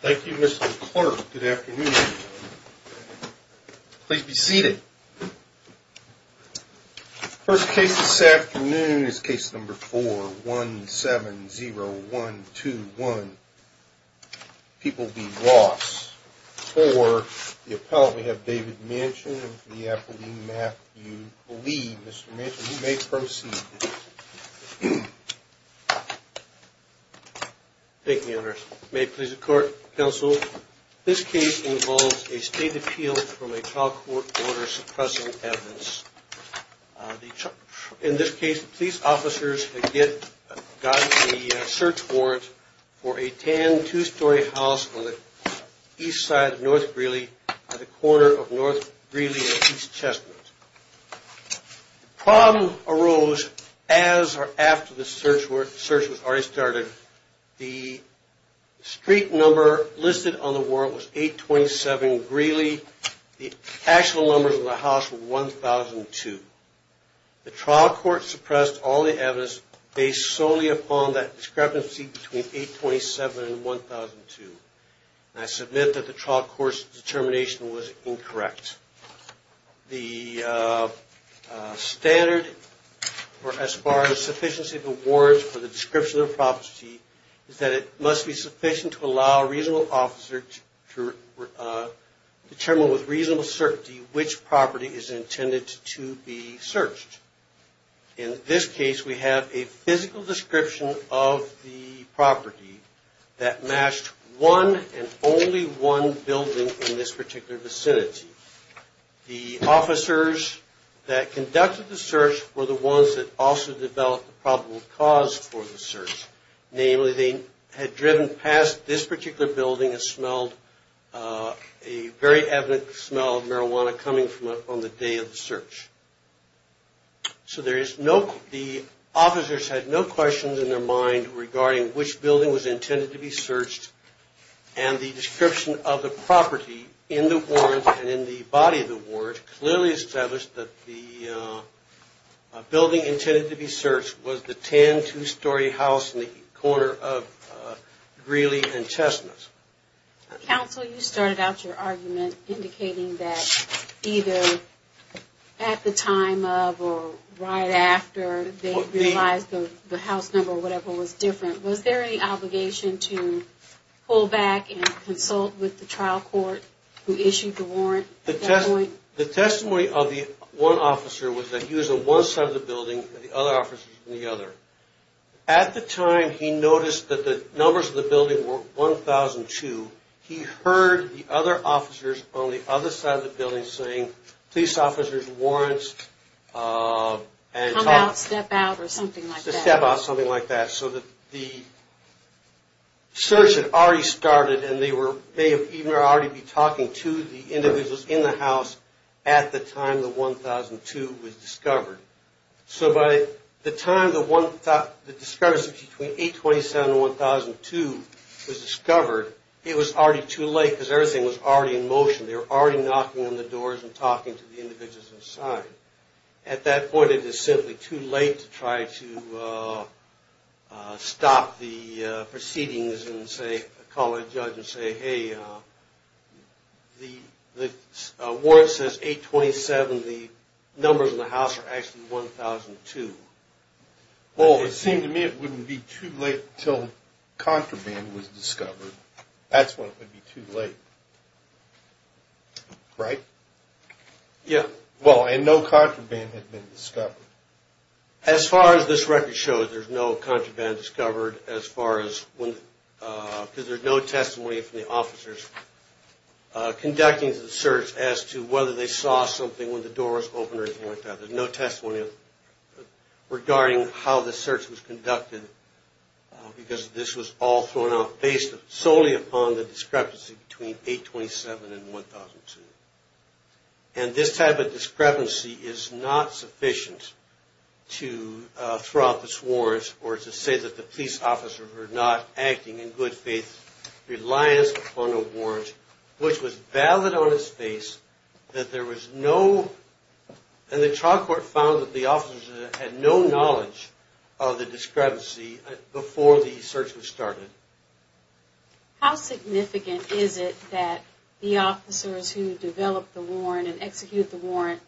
Thank you, Mr. Clark. Good afternoon. Please be seated. First case this afternoon is case number 4-170121. People v. Ross. For the appellant, we have David Manchin and for the appellee, Matthew Lee. Mr. Manchin, you may proceed. Thank you, Your Honor. May it please the court, counsel. This case involves a state appeal from a trial court order suppressing evidence. In this case, police officers had gotten a search warrant for a tan two-story house on the east side of North Greeley at the corner of North Greeley and East Chestnut. The problem arose as or after the search was already started. The street number listed on the warrant was 827 Greeley. The actual numbers of the house were 1002. The trial court suppressed all the evidence based solely upon that discrepancy between 827 and 1002. I submit that the trial court's determination was incorrect. The standard as far as sufficiency of the warrant for the description of the property is that it must be sufficient to allow a reasonable officer to determine with reasonable certainty which property is intended to be searched. In this case, we have a physical description of the property that matched one and only one building in this particular vicinity. The officers that conducted the search were the ones that also developed the probable cause for the search. Namely, they had driven past this particular building and smelled a very evident smell of marijuana coming from it on the day of the search. So the officers had no questions in their mind regarding which building was intended to be searched and the description of the property in the warrant and in the body of the warrant clearly established that the building intended to be searched was the tan two-story house in the corner of Greeley and Chestnut. Counsel, you started out your argument indicating that either at the time of or right after they realized the house number or whatever was different, was there any obligation to pull back and consult with the trial court who issued the warrant at that point? The testimony of the one officer was that he was on one side of the building and the other officers were on the other. At the time he noticed that the numbers of the building were 1,002, he heard the other officers on the other side of the building saying police officers, warrants, and talk. Come out, step out or something like that. So the search had already started and they may have already been talking to the individuals in the house at the time the 1,002 was discovered. So by the time the discrepancy between 827 and 1,002 was discovered, it was already too late because everything was already in motion. They were already knocking on the doors and talking to the individuals inside. At that point it is simply too late to try to stop the proceedings and call a judge and say, hey, the warrant says 827, the numbers in the house are actually 1,002. Well, it seemed to me it wouldn't be too late until contraband was discovered. That's when it would be too late. Right? Yeah. Well, and no contraband had been discovered. As far as this record shows, there's no contraband discovered because there's no testimony from the officers conducting the search as to whether they saw something when the doors opened or anything like that. There's no testimony regarding how the search was conducted because this was all thrown out based solely upon the discrepancy between 827 and 1,002. And this type of discrepancy is not sufficient to throw out this warrant or to say that the police officers were not acting in good faith reliance upon a warrant, which was valid on its face that there was no – and the trial court found that the officers had no knowledge of the discrepancy before the search was started. How significant is it that the officers who developed the warrant and executed the warrant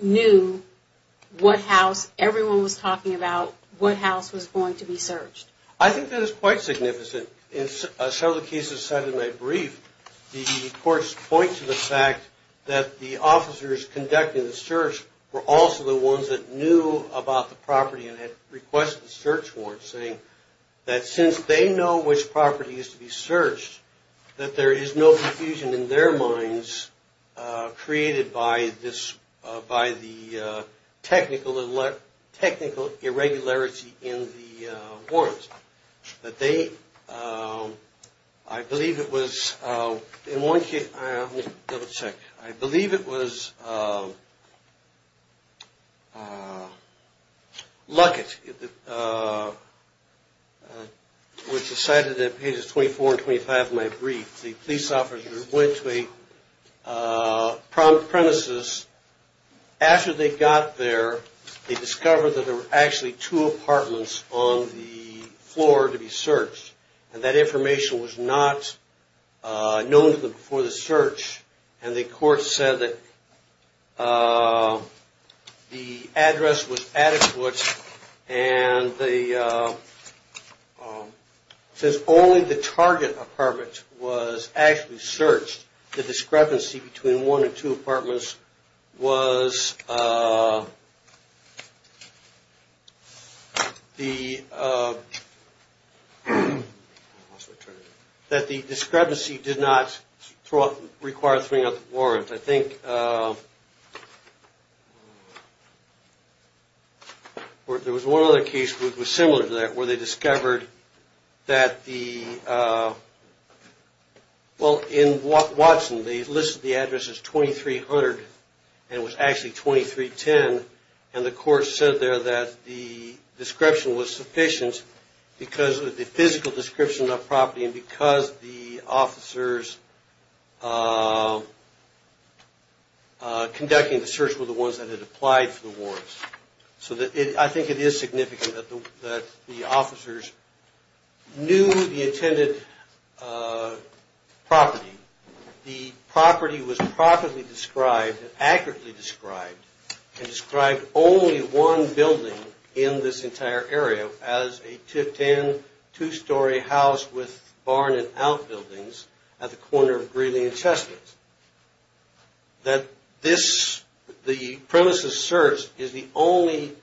knew what house everyone was talking about, what house was going to be searched? I think that it's quite significant. In some of the cases cited in my brief, the courts point to the fact that the officers conducting the search were also the ones that knew about the property and had requested a search warrant, saying that since they know which property is to be searched, that there is no confusion in their minds created by the technical irregularity in the warrant. I believe it was Luckett, which is cited in pages 24 and 25 of my brief, the police officers went to a premises. After they got there, they discovered that there were actually two apartments on the floor to be searched, and that information was not known to them before the search, and the court said that the address was adequate. And since only the target apartment was actually searched, the discrepancy between one and two apartments was that the discrepancy did not require throwing out the warrant. I think there was one other case that was similar to that, where they discovered that the, well in Watson, they listed the address as 2300, and it was actually 2310, and the court said there that the description was sufficient because of the physical description of the property, and because the officers conducting the search were the ones that had applied for the warrants. So I think it is significant that the officers knew the intended property. The property was properly described, accurately described, and described only one building in this entire area as a two-story house with barn and outbuildings at the corner of Greeley and Chestnut. That this, the premises search, is the only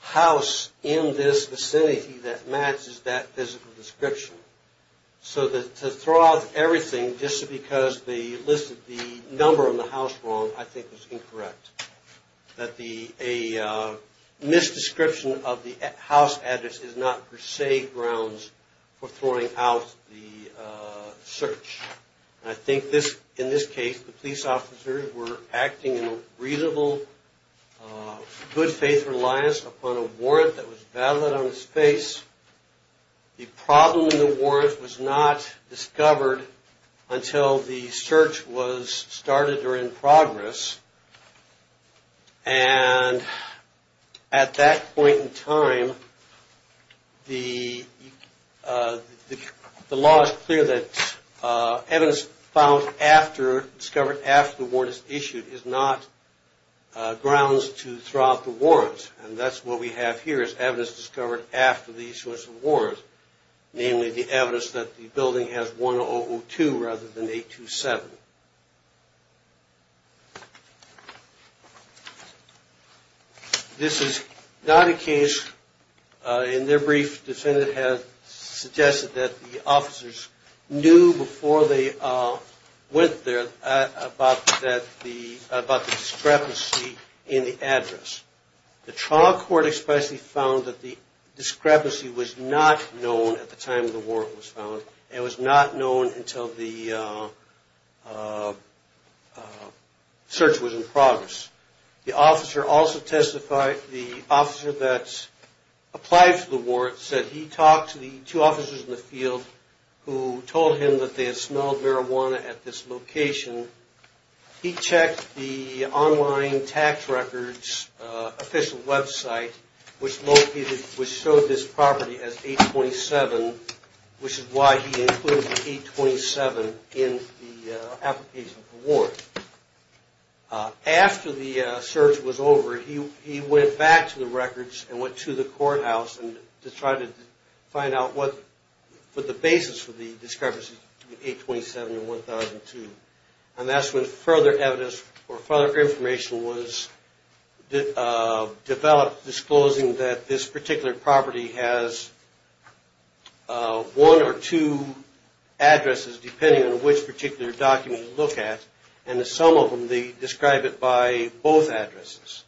house in this vicinity that matches that physical description. So to throw out everything just because they listed the number on the house wrong, I think is incorrect. That a misdescription of the house address is not per se grounds for throwing out the search. I think this, in this case, the police officers were acting in a reasonable, good faith reliance upon a warrant that was valid on his face. The problem in the warrant was not discovered until the search was started or in progress. And at that point in time, the law is clear that evidence found after, discovered after the warrant is issued is not grounds to throw out the warrants. And that's what we have here is evidence discovered after these sorts of warrants, namely the evidence that the building has 1002 rather than 827. This is not a case, in their brief, the defendant has suggested that the officers knew before they went there about the discrepancy in the address. The trial court expressly found that the discrepancy was not known at the time the warrant was found. It was not known until the search was in progress. The officer also testified, the officer that applied for the warrant said he talked to the two officers in the field who told him that they had smelled marijuana at this location. He checked the online tax records official website, which showed this property as 827, which is why he included the 827 in the application for the warrant. After the search was over, he went back to the records and went to the courthouse to try to find out the basis for the discrepancy between 827 and 1002. And that's when further evidence or further information was developed disclosing that this particular property has one or two addresses, depending on which particular document you look at. And some of them, they describe it by both addresses.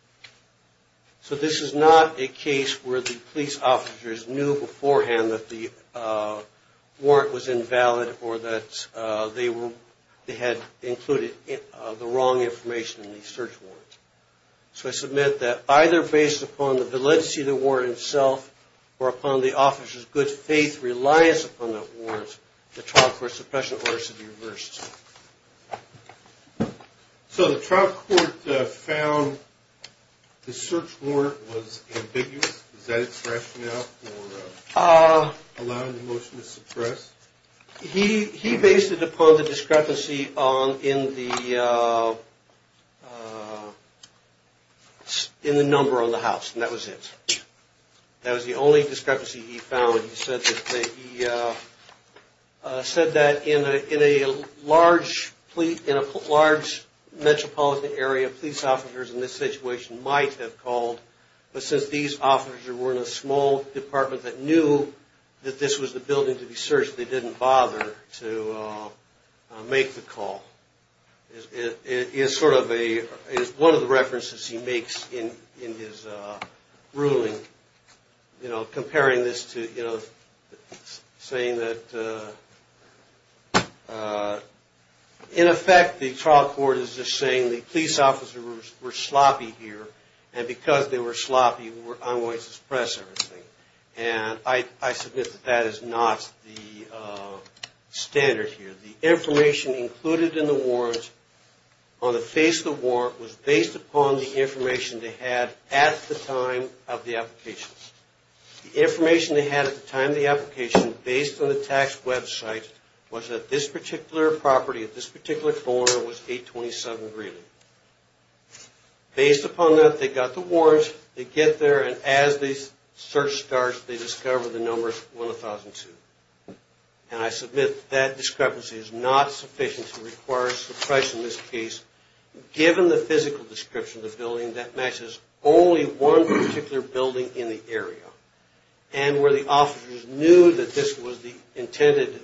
So this is not a case where the police officers knew beforehand that the warrant was invalid or that they had included the wrong information in the search warrant. So I submit that either based upon the validity of the warrant itself or upon the officer's good faith reliance upon the warrant, the trial court suppression order should be reversed. So the trial court found the search warrant was ambiguous. Is that expression now allowing the motion to suppress? He based it upon the discrepancy in the number on the house, and that was it. That was the only discrepancy he found. He said that in a large metropolitan area, police officers in this situation might have called, but since these officers were in a small department that knew that this was the building to be searched, they didn't bother to make the call. It is one of the references he makes in his ruling, comparing this to saying that, in effect, the trial court is just saying the police officers were sloppy here, and because they were sloppy, I'm going to suppress everything. And I submit that is not the standard here. The information included in the warrant, on the face of the warrant, was based upon the information they had at the time of the application. The information they had at the time of the application, based on the tax website, was that this particular property at this particular corner was 827 Greeley. Based upon that, they got the warrant, they get there, and as the search starts, they discover the number 1002. And I submit that discrepancy is not sufficient to require suppression in this case, given the physical description of the building that matches only one particular building in the area, and where the officers knew that this was the intended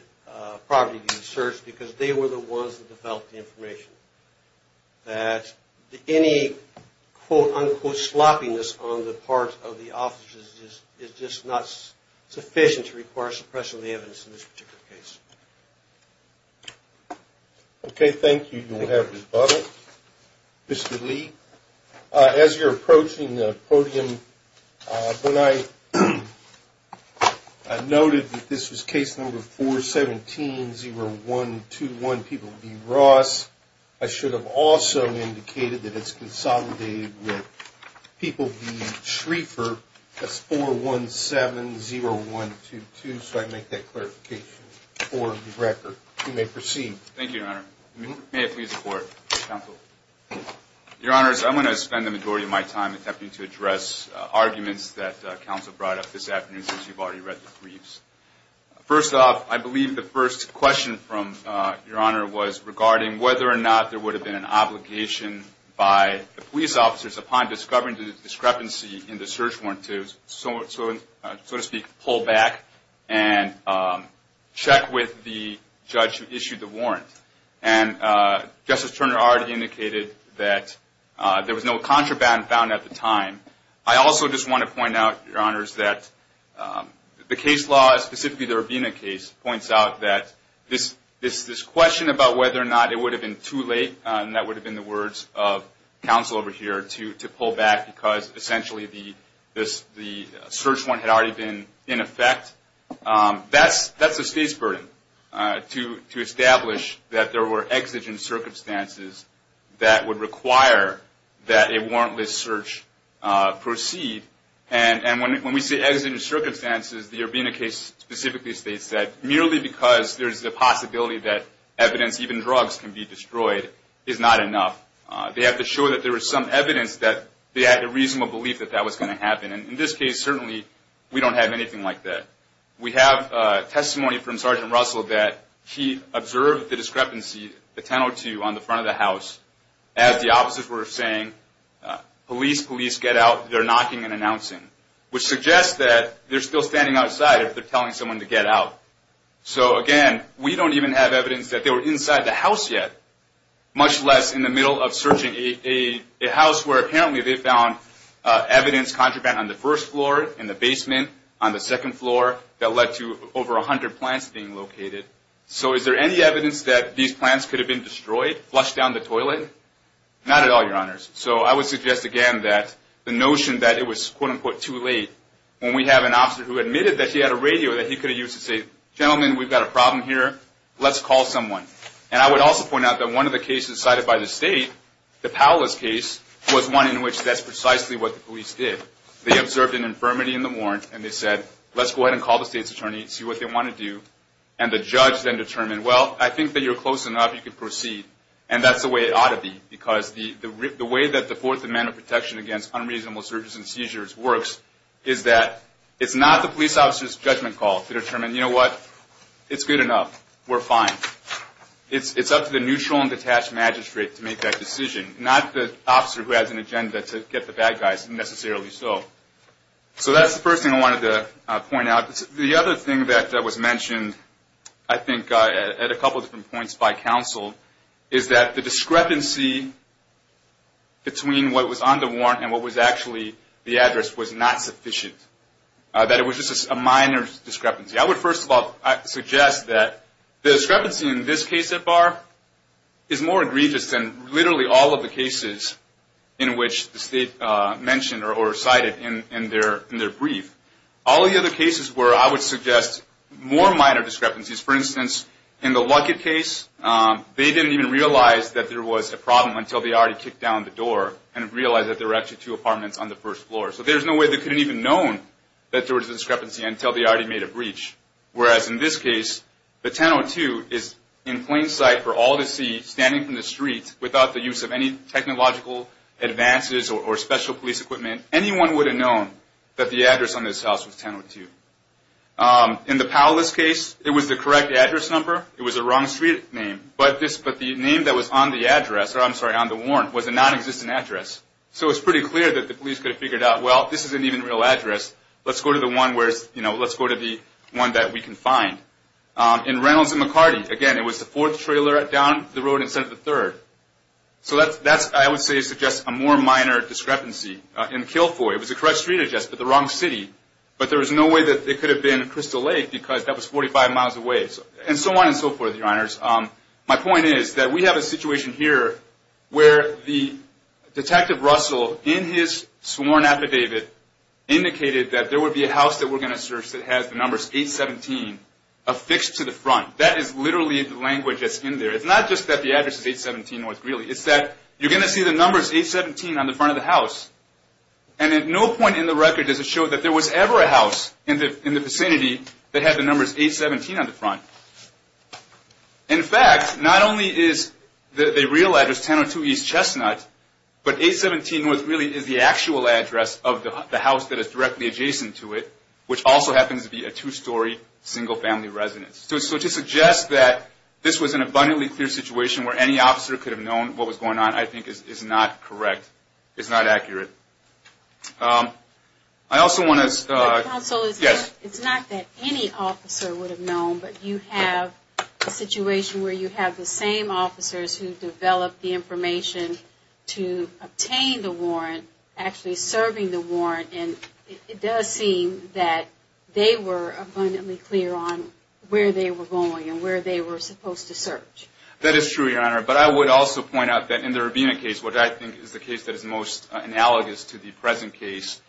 property to be searched, because they were the ones that developed the information. That any, quote, unquote, sloppiness on the part of the officers is just not sufficient to require suppression of the evidence in this particular case. Okay, thank you. You will have rebuttal. Mr. Lee, as you're approaching the podium, when I noted that this was case number 417-0121, People v. Ross, I should have also indicated that it's consolidated with People v. Schrieffer as 417-0122, so I make that clarification for the record. You may proceed. Thank you, Your Honor. May I please report, counsel? Your Honor, I'm going to spend the majority of my time attempting to address arguments that counsel brought up this afternoon, since you've already read the briefs. First off, I believe the first question from Your Honor was regarding whether or not there would have been an obligation by the police officers, upon discovering the discrepancy in the search warrant, to, so to speak, pull back and check with the judge who issued the warrant. And Justice Turner already indicated that there was no contraband found at the time. I also just want to point out, Your Honors, that the case law, specifically the Rubina case, points out that this question about whether or not it would have been too late, and that would have been the words of counsel over here, to pull back because essentially the search warrant had already been in effect. That's the State's burden, to establish that there were exigent circumstances that would require that a warrantless search proceed. And when we say exigent circumstances, the Rubina case specifically states that merely because there's the possibility that evidence, even drugs, can be destroyed, is not enough. They have to show that there was some evidence that they had a reasonable belief that that was going to happen. And in this case, certainly, we don't have anything like that. We have testimony from Sergeant Russell that he observed the discrepancy, the 1002 on the front of the house, as the officers were saying, police, police, get out. They're knocking and announcing, which suggests that they're still standing outside if they're telling someone to get out. So, again, we don't even have evidence that they were inside the house yet, much less in the middle of searching a house where apparently they found evidence contraband on the first floor, in the basement, on the second floor, that led to over 100 plants being located. So is there any evidence that these plants could have been destroyed, flushed down the toilet? Not at all, Your Honors. So I would suggest, again, that the notion that it was, quote-unquote, too late, when we have an officer who admitted that he had a radio that he could have used to say, gentlemen, we've got a problem here, let's call someone. And I would also point out that one of the cases cited by the state, the Powles case, was one in which that's precisely what the police did. They observed an infirmity in the warrant, and they said, let's go ahead and call the state's attorney, see what they want to do, and the judge then determined, well, I think that you're close enough, you can proceed. And that's the way it ought to be, because the way that the Fourth Amendment protection against unreasonable searches and seizures works is that it's not the police officer's judgment call to determine, you know what, it's good enough, we're fine. It's up to the neutral and detached magistrate to make that decision, not the officer who has an agenda to get the bad guys, necessarily so. So that's the first thing I wanted to point out. The other thing that was mentioned, I think, at a couple of different points by counsel, is that the discrepancy between what was on the warrant and what was actually the address was not sufficient, that it was just a minor discrepancy. I would, first of all, suggest that the discrepancy in this case so far is more egregious than literally all of the cases in which the state mentioned or cited in their brief. All the other cases where I would suggest more minor discrepancies, for instance, in the Luckett case, they didn't even realize that there was a problem until they already kicked down the door and realized that there were actually two apartments on the first floor. So there's no way they could have even known that there was a discrepancy until they already made a breach. Whereas in this case, the 1002 is in plain sight for all to see, standing in the street, without the use of any technological advances or special police equipment. Anyone would have known that the address on this house was 1002. In the Powellist case, it was the correct address number, it was the wrong street name, but the name that was on the address, or I'm sorry, on the warrant, was a non-existent address. So it's pretty clear that the police could have figured out, well, this isn't even a real address. Let's go to the one that we can find. In Reynolds and McCarty, again, it was the fourth trailer down the road instead of the third. So that, I would say, suggests a more minor discrepancy. In Kilfoy, it was the correct street address, but the wrong city. But there was no way that it could have been Crystal Lake because that was 45 miles away. And so on and so forth, Your Honors. My point is that we have a situation here where the Detective Russell, in his sworn affidavit, indicated that there would be a house that we're going to search that has the numbers 817 affixed to the front. That is literally the language that's in there. It's not just that the address is 817 North Greeley. It's that you're going to see the numbers 817 on the front of the house, and at no point in the record does it show that there was ever a house in the vicinity that had the numbers 817 on the front. In fact, not only is the real address 1002 East Chestnut, but 817 North Greeley is the actual address of the house that is directly adjacent to it, which also happens to be a two-story, single-family residence. So to suggest that this was an abundantly clear situation where any officer could have known what was going on, I think, is not correct. It's not accurate. I also want to – Counsel, it's not that any officer would have known, but you have a situation where you have the same officers who developed the information to obtain the warrant, actually serving the warrant, and it does seem that they were abundantly clear on where they were going and where they were supposed to search. That is true, Your Honor. But I would also point out that in the Rabina case, which I think is the case that is most analogous to the present case,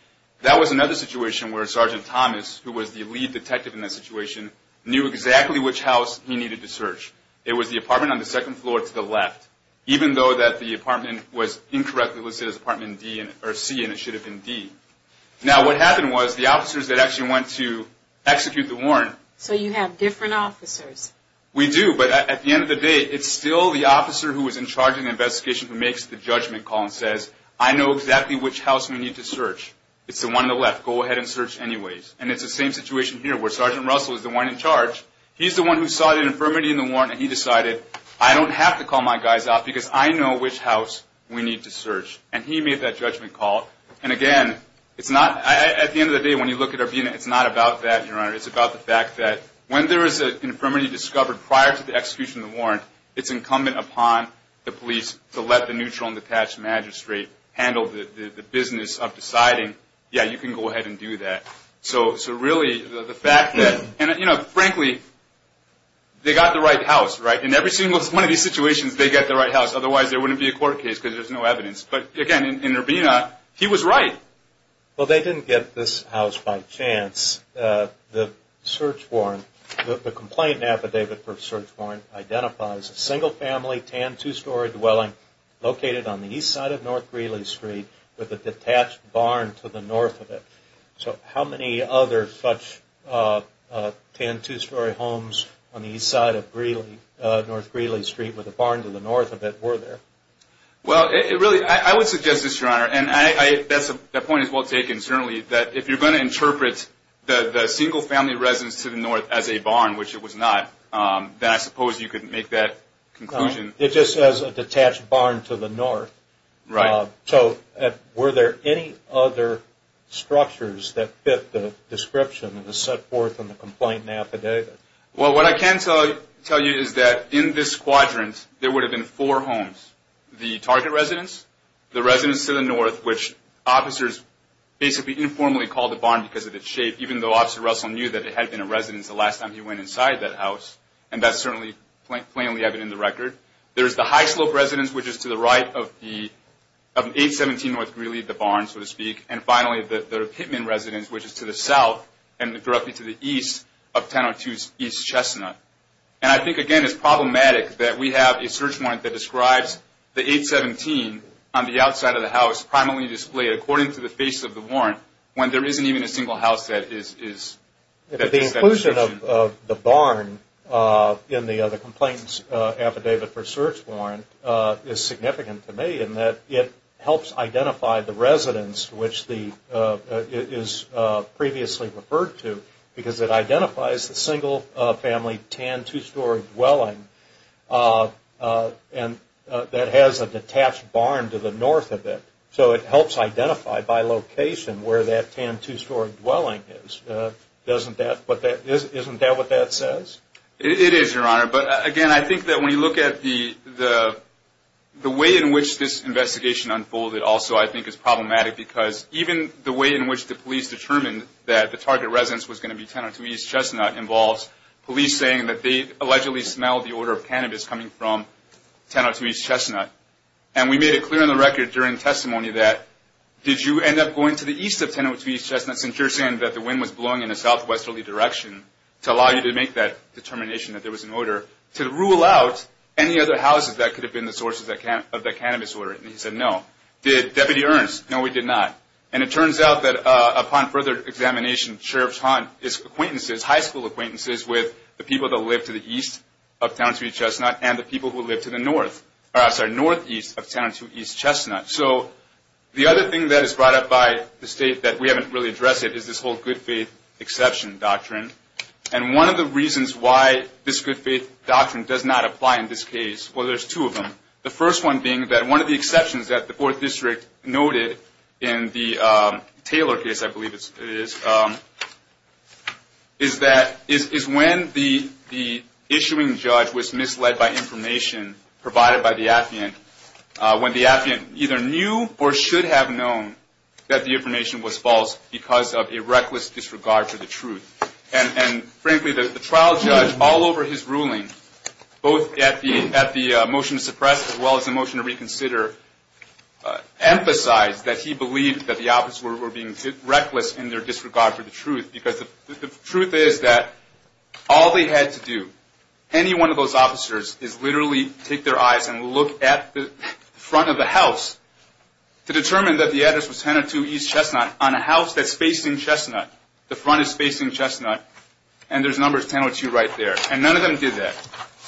that was another situation where Sergeant Thomas, who was the lead detective in that situation, knew exactly which house he needed to search. It was the apartment on the second floor to the left, even though that the apartment was incorrectly listed as C and it should have been D. Now, what happened was the officers that actually went to execute the warrant – So you have different officers. We do, but at the end of the day, it's still the officer who was in charge of the investigation who makes the judgment call and says, I know exactly which house we need to search. It's the one on the left. Go ahead and search anyways. And it's the same situation here where Sergeant Russell is the one in charge. He's the one who saw the infirmity in the warrant and he decided, I don't have to call my guys out because I know which house we need to search. And he made that judgment call. And again, at the end of the day, when you look at Rabina, it's not about that, Your Honor. It's about the fact that when there is an infirmity discovered prior to the execution of the warrant, it's incumbent upon the police to let the neutral and detached magistrate handle the business of deciding, yeah, you can go ahead and do that. So really, the fact that – and frankly, they got the right house, right? In every single one of these situations, they get the right house. Otherwise, there wouldn't be a court case because there's no evidence. But again, in Rabina, he was right. Well, they didn't get this house by chance. The search warrant, the complaint affidavit for search warrant, identifies a single-family, tan, two-story dwelling located on the east side of North Greeley Street with a detached barn to the north of it. So how many other such tan, two-story homes on the east side of North Greeley Street with a barn to the north of it were there? Well, really, I would suggest this, Your Honor, and that point is well taken. Certainly, if you're going to interpret the single-family residence to the north as a barn, which it was not, then I suppose you could make that conclusion. It just says a detached barn to the north. Right. So were there any other structures that fit the description that was set forth in the complaint affidavit? Well, what I can tell you is that in this quadrant, there would have been four homes, the target residence, the residence to the north, which officers basically informally called a barn because of its shape, even though Officer Russell knew that it had been a residence the last time he went inside that house, and that's certainly plainly evident in the record. There's the high-slope residence, which is to the right of 817 North Greeley, the barn, so to speak. And finally, the Pittman residence, which is to the south and roughly to the east of Tan, two-story East Chestnut. And I think, again, it's problematic that we have a search warrant that describes the 817 on the outside of the house primarily displayed according to the face of the warrant when there isn't even a single house that is. The inclusion of the barn in the complaint's affidavit for search warrant is significant to me in that it helps identify the residence which is previously referred to because it identifies the single family Tan two-story dwelling that has a detached barn to the north of it. So it helps identify by location where that Tan two-story dwelling is. Isn't that what that says? It is, Your Honor. But, again, I think that when you look at the way in which this investigation unfolded also I think is problematic because even the way in which the police determined that the target residence was going to be Tan two-story East Chestnut involves police saying that they allegedly smelled the odor of cannabis coming from Tan two-story East Chestnut. And we made it clear on the record during testimony that did you end up going to the east of Tan two-story East Chestnut since you're saying that the wind was blowing in a southwesterly direction to allow you to make that determination that there was an odor to rule out any other houses that could have been the sources of that cannabis odor. And he said no. Did Deputy Ernst? No, we did not. And it turns out that upon further examination, Sheriff's Haunt is high school acquaintances with the people that live to the east of Tan two-story East Chestnut and the people who live to the northeast of Tan two-story East Chestnut. So the other thing that is brought up by the state that we haven't really addressed it is this whole good faith exception doctrine. And one of the reasons why this good faith doctrine does not apply in this case, well, there's two of them. The first one being that one of the exceptions that the fourth district noted in the Taylor case, I believe it is, is that is when the issuing judge was misled by information provided by the affiant, when the affiant either knew or should have known that the information was false because of a reckless disregard for the truth. And frankly, the trial judge all over his ruling, both at the motion to suppress as well as the motion to reconsider, emphasized that he believed that the officers were being reckless in their disregard for the truth because the truth is that all they had to do, any one of those officers, is literally take their eyes and look at the front of the house to determine that the address was Tan two-story East Chestnut on a house that's facing Chestnut. The front is facing Chestnut. And there's numbers 1002 right there. And none of them did that.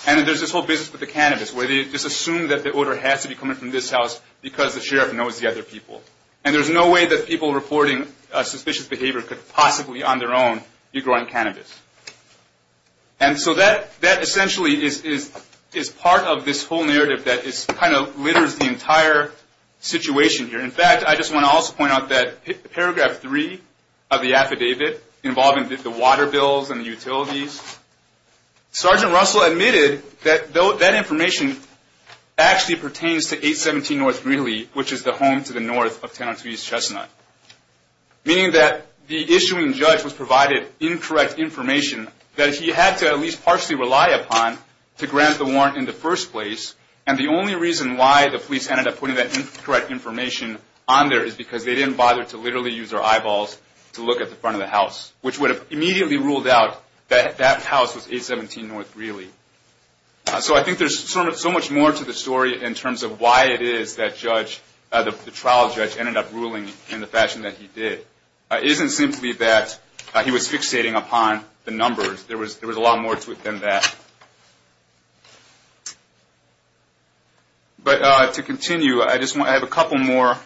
And there's this whole business with the cannabis where they just assume that the order has to be coming from this house because the sheriff knows the other people. And there's no way that people reporting suspicious behavior could possibly on their own be growing cannabis. And so that essentially is part of this whole narrative that kind of litters the entire situation here. In fact, I just want to also point out that paragraph three of the affidavit involving the water bills and utilities, Sergeant Russell admitted that that information actually pertains to 817 North Greeley, which is the home to the north of 1002 East Chestnut, meaning that the issuing judge was provided incorrect information that he had to at least partially rely upon to grant the warrant in the first place. And the only reason why the police ended up putting that incorrect information on there is because they didn't bother to literally use their eyeballs to look at the front of the house, which would have immediately ruled out that that house was 817 North Greeley. So I think there's so much more to the story in terms of why it is that the trial judge ended up ruling in the fashion that he did. It isn't simply that he was fixating upon the numbers. There was a lot more to it than that. But to continue, I have a couple more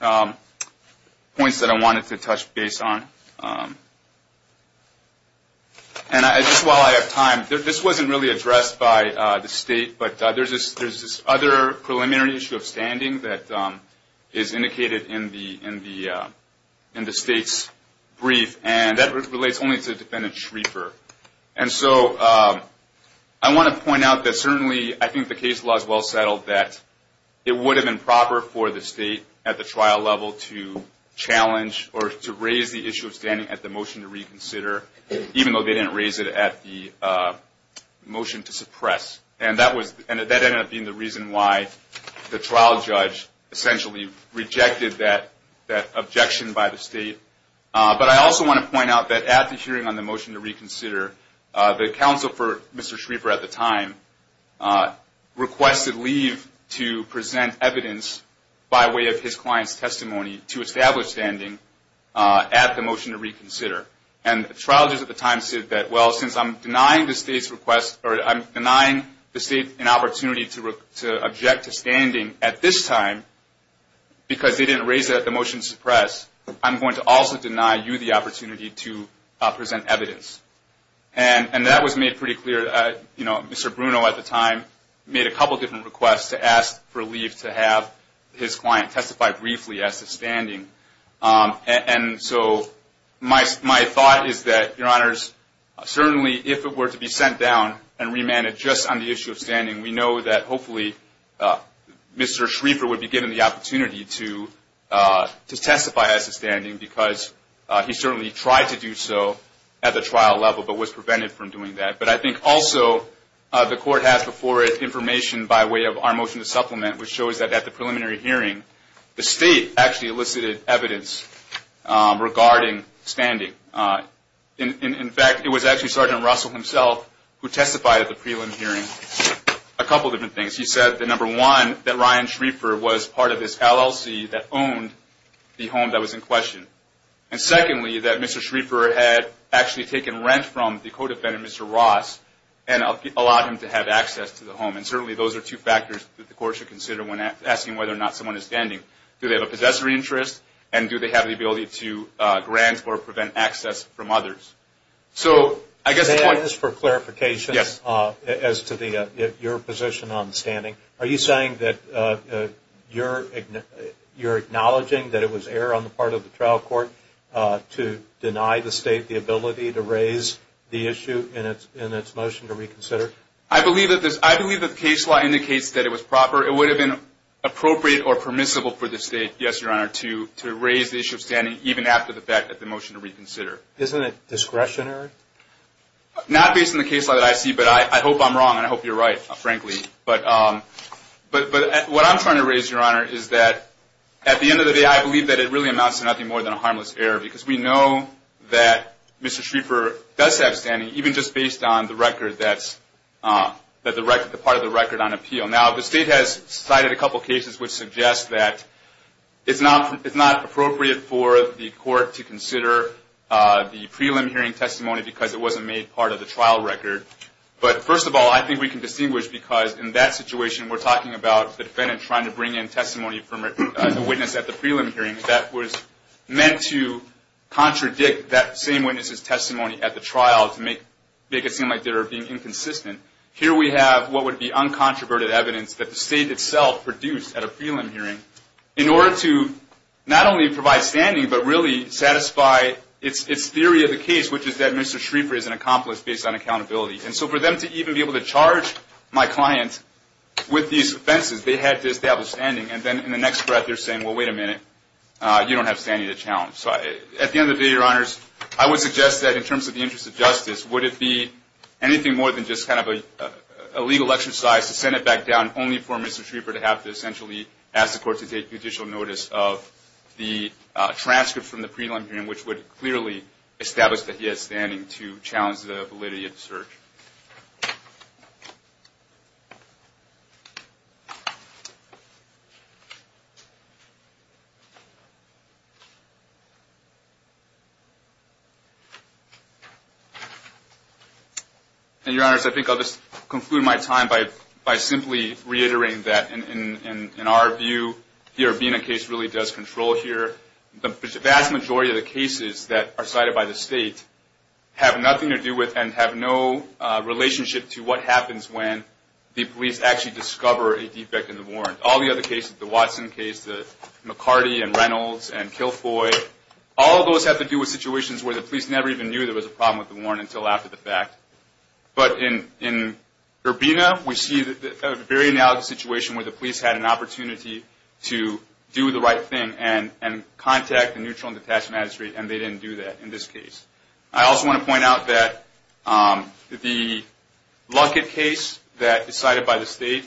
points that I wanted to touch base on. And just while I have time, this wasn't really addressed by the State, but there's this other preliminary issue of standing that is indicated in the State's brief, and that relates only to Defendant Schrieffer. And so I want to point out that certainly I think the case law is well settled that it would have been proper for the State at the trial level to challenge or to raise the issue of standing at the motion to reconsider, even though they didn't raise it at the motion to suppress. And that ended up being the reason why the trial judge essentially rejected that objection by the State. But I also want to point out that at the hearing on the motion to reconsider, the counsel for Mr. Schrieffer at the time requested leave to present evidence by way of his client's testimony to establish standing at the motion to reconsider. And the trial judge at the time said that, well, since I'm denying the State's request or I'm denying the State an opportunity to object to standing at this time because they didn't raise it at the motion to suppress, I'm going to also deny you the opportunity to present evidence. And that was made pretty clear. You know, Mr. Bruno at the time made a couple different requests to ask for leave to have his client testify briefly as to standing. And so my thought is that, Your Honors, certainly if it were to be sent down and remanded just on the issue of standing, we know that hopefully Mr. Schrieffer would be given the opportunity to testify as to standing because he certainly tried to do so at the trial level but was prevented from doing that. But I think also the Court has before it information by way of our motion to supplement, which shows that at the preliminary hearing the State actually elicited evidence regarding standing. In fact, it was actually Sergeant Russell himself who testified at the preliminary hearing. A couple different things. He said that, number one, that Ryan Schrieffer was part of this LLC that owned the home that was in question. And secondly, that Mr. Schrieffer had actually taken rent from the co-defendant, Mr. Ross, and allowed him to have access to the home. And certainly those are two factors that the Court should consider when asking whether or not someone is standing. Do they have a possessory interest? And do they have the ability to grant or prevent access from others? So I guess the point – May I ask for clarification as to your position on standing? Are you saying that you're acknowledging that it was error on the part of the trial court to deny the State the ability to raise the issue in its motion to reconsider? I believe that the case law indicates that it was proper. It would have been appropriate or permissible for the State, yes, Your Honor, to raise the issue of standing even after the fact at the motion to reconsider. Isn't it discretionary? Not based on the case law that I see, but I hope I'm wrong and I hope you're right, frankly. But what I'm trying to raise, Your Honor, is that at the end of the day, I believe that it really amounts to nothing more than a harmless error because we know that Mr. Schrieffer does have standing, even just based on the record that's – the part of the record on appeal. Now, the State has cited a couple of cases which suggest that it's not appropriate for the court to consider the prelim hearing testimony because it wasn't made part of the trial record. But first of all, I think we can distinguish because in that situation, we're talking about the defendant trying to bring in testimony from the witness at the prelim hearing that was meant to contradict that same witness's testimony at the trial to make it seem like they were being inconsistent. Here we have what would be uncontroverted evidence that the State itself produced at a prelim hearing in order to not only provide standing, but really satisfy its theory of the case, which is that Mr. Schrieffer is an accomplice based on accountability. And so for them to even be able to charge my client with these offenses, they had to establish standing. And then in the next breath, they're saying, well, wait a minute, you don't have standing to challenge. So at the end of the day, Your Honors, I would suggest that in terms of the interest of justice, would it be anything more than just kind of a legal exercise to send it back down only for Mr. Schrieffer to have to essentially ask the court to take judicial notice of the transcript from the prelim hearing, which would clearly establish that he has standing to challenge the validity of the search. And, Your Honors, I think I'll just conclude my time by simply reiterating that in our view, the Urbina case really does control here. The vast majority of the cases that are cited by the state have nothing to do with and have no relationship to what happens when the police actually discover a defect in the warrant. All the other cases, the Watson case, the McCarty and Reynolds and Kilfoy, all of those have to do with situations where the police never even knew there was a problem with the warrant until after the fact. But in Urbina, we see a very analogous situation where the police had an opportunity to do the right thing and contact the neutral and detached magistrate, and they didn't do that in this case. I also want to point out that the Luckett case that is cited by the state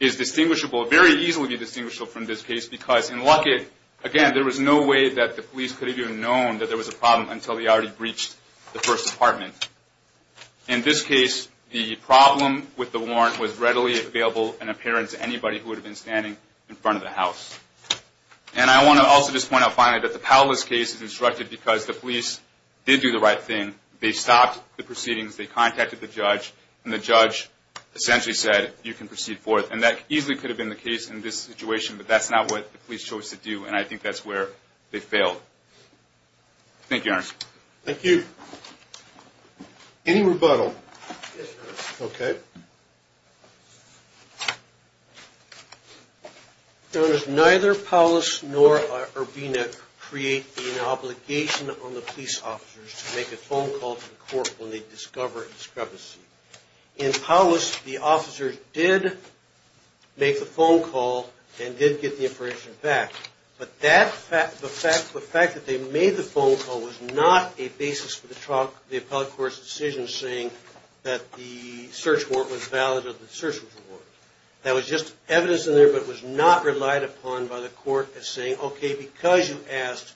is distinguishable, very easily distinguishable from this case because in Luckett, again, there was no way that the police could have even known that there was a problem until they already breached the first apartment. In this case, the problem with the warrant was readily available in appearance to anybody who would have been standing in front of the house. And I want to also just point out finally that the Palos case is instructed because the police did do the right thing. They stopped the proceedings. They contacted the judge, and the judge essentially said, you can proceed forth. And that easily could have been the case in this situation, but that's not what the police chose to do, and I think that's where they failed. Thank you, Your Honor. Thank you. Any rebuttal? Yes, Your Honor. Okay. Your Honor, neither Palos nor Urbina create an obligation on the police officers to make a phone call to the court when they discover a discrepancy. In Palos, the officers did make the phone call and did get the information back, but the fact that they made the phone call was not a basis for the appellate court's decision saying that the search warrant was valid or the search warrant was valid. That was just evidence in there but was not relied upon by the court as saying, okay, because you asked,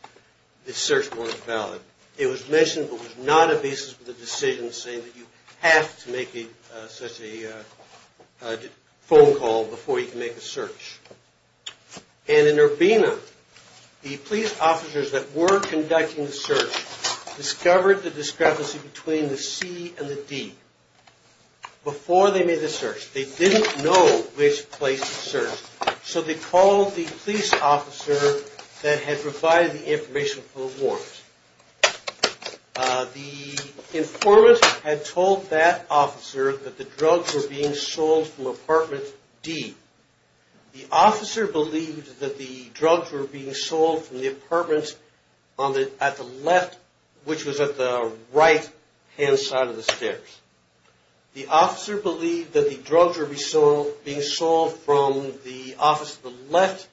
the search warrant is valid. It was mentioned but was not a basis for the decision saying that you have to make such a phone call before you can make a search. And in Urbina, the police officers that were conducting the search discovered the discrepancy between the C and the D. Before they made the search, they didn't know which place to search, so they called the police officer that had provided the information for the warrant. The informant had told that officer that the drugs were being sold from apartment D. The officer believed that the drugs were being sold from the apartment at the left, which was at the right-hand side of the stairs. The officer believed that the drugs were being sold from the office at the left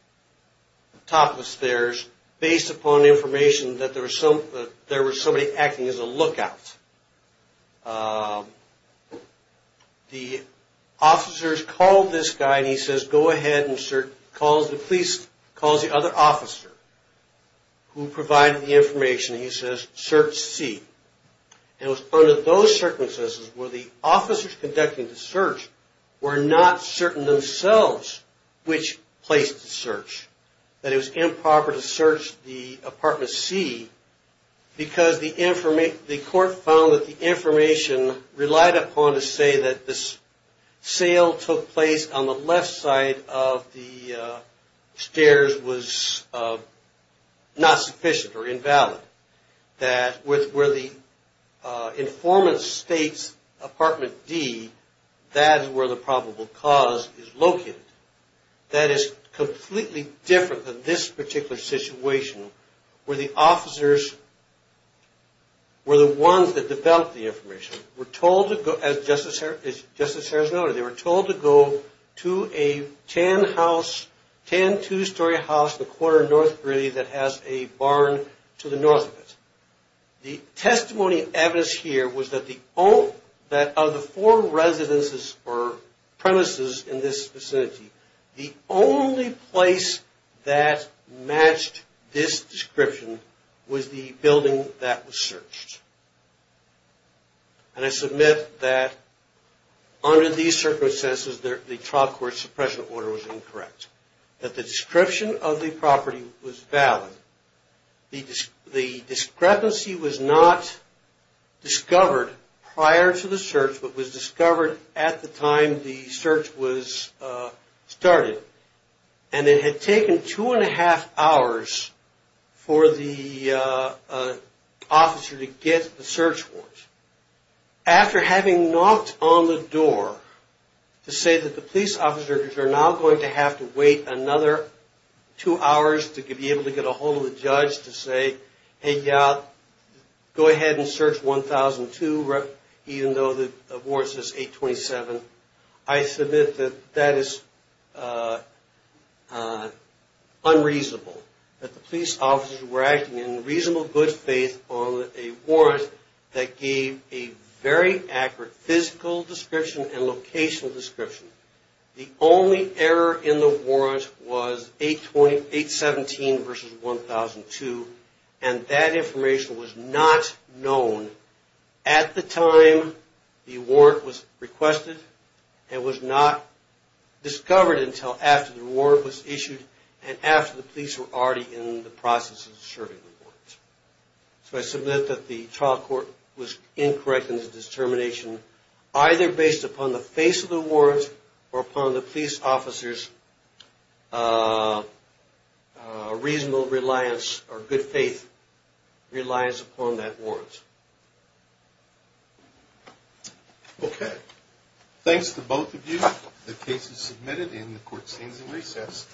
top of the stairs based upon information that there was somebody acting as a lookout. The officers called this guy and he says, go ahead and search. The police calls the other officer who provided the information and he says, search C. It was under those circumstances where the officers conducting the search were not certain themselves which place to search. That it was improper to search the apartment C because the court found that the information relied upon to say that the sale took place on the left side of the stairs was not sufficient or invalid. That where the informant states apartment D, that is where the probable cause is located. That is completely different than this particular situation where the officers were the ones that developed the information. We're told to go, as Justice Harris noted, they were told to go to a tan house, tan two-story house in the corner of North Bridge that has a barn to the north of it. The testimony and evidence here was that of the four residences or premises in this vicinity, the only place that matched this description was the building that was searched. And I submit that under these circumstances the trial court suppression order was incorrect. That the description of the property was valid. The discrepancy was not discovered prior to the search but was discovered at the time the search was started. And it had taken two and a half hours for the officer to get the search warrant. After having knocked on the door to say that the police officers are now going to have to wait another two hours to be able to get a hold of the judge to say, hey yeah, go ahead and search 1002 even though the warrant says 827. I submit that that is unreasonable. That the police officers were acting in reasonable good faith on a warrant that gave a very accurate physical description and locational description. The only error in the warrant was 817 versus 1002 and that information was not known at the time the warrant was requested and was not discovered until after the warrant was issued and after the police were already in the process of serving the warrant. So I submit that the trial court was incorrect in its determination either based upon the face of the warrant or upon the police officer's reasonable reliance or good faith reliance upon that warrant. Okay. Thanks to both of you. The case is submitted and the court stands in recess.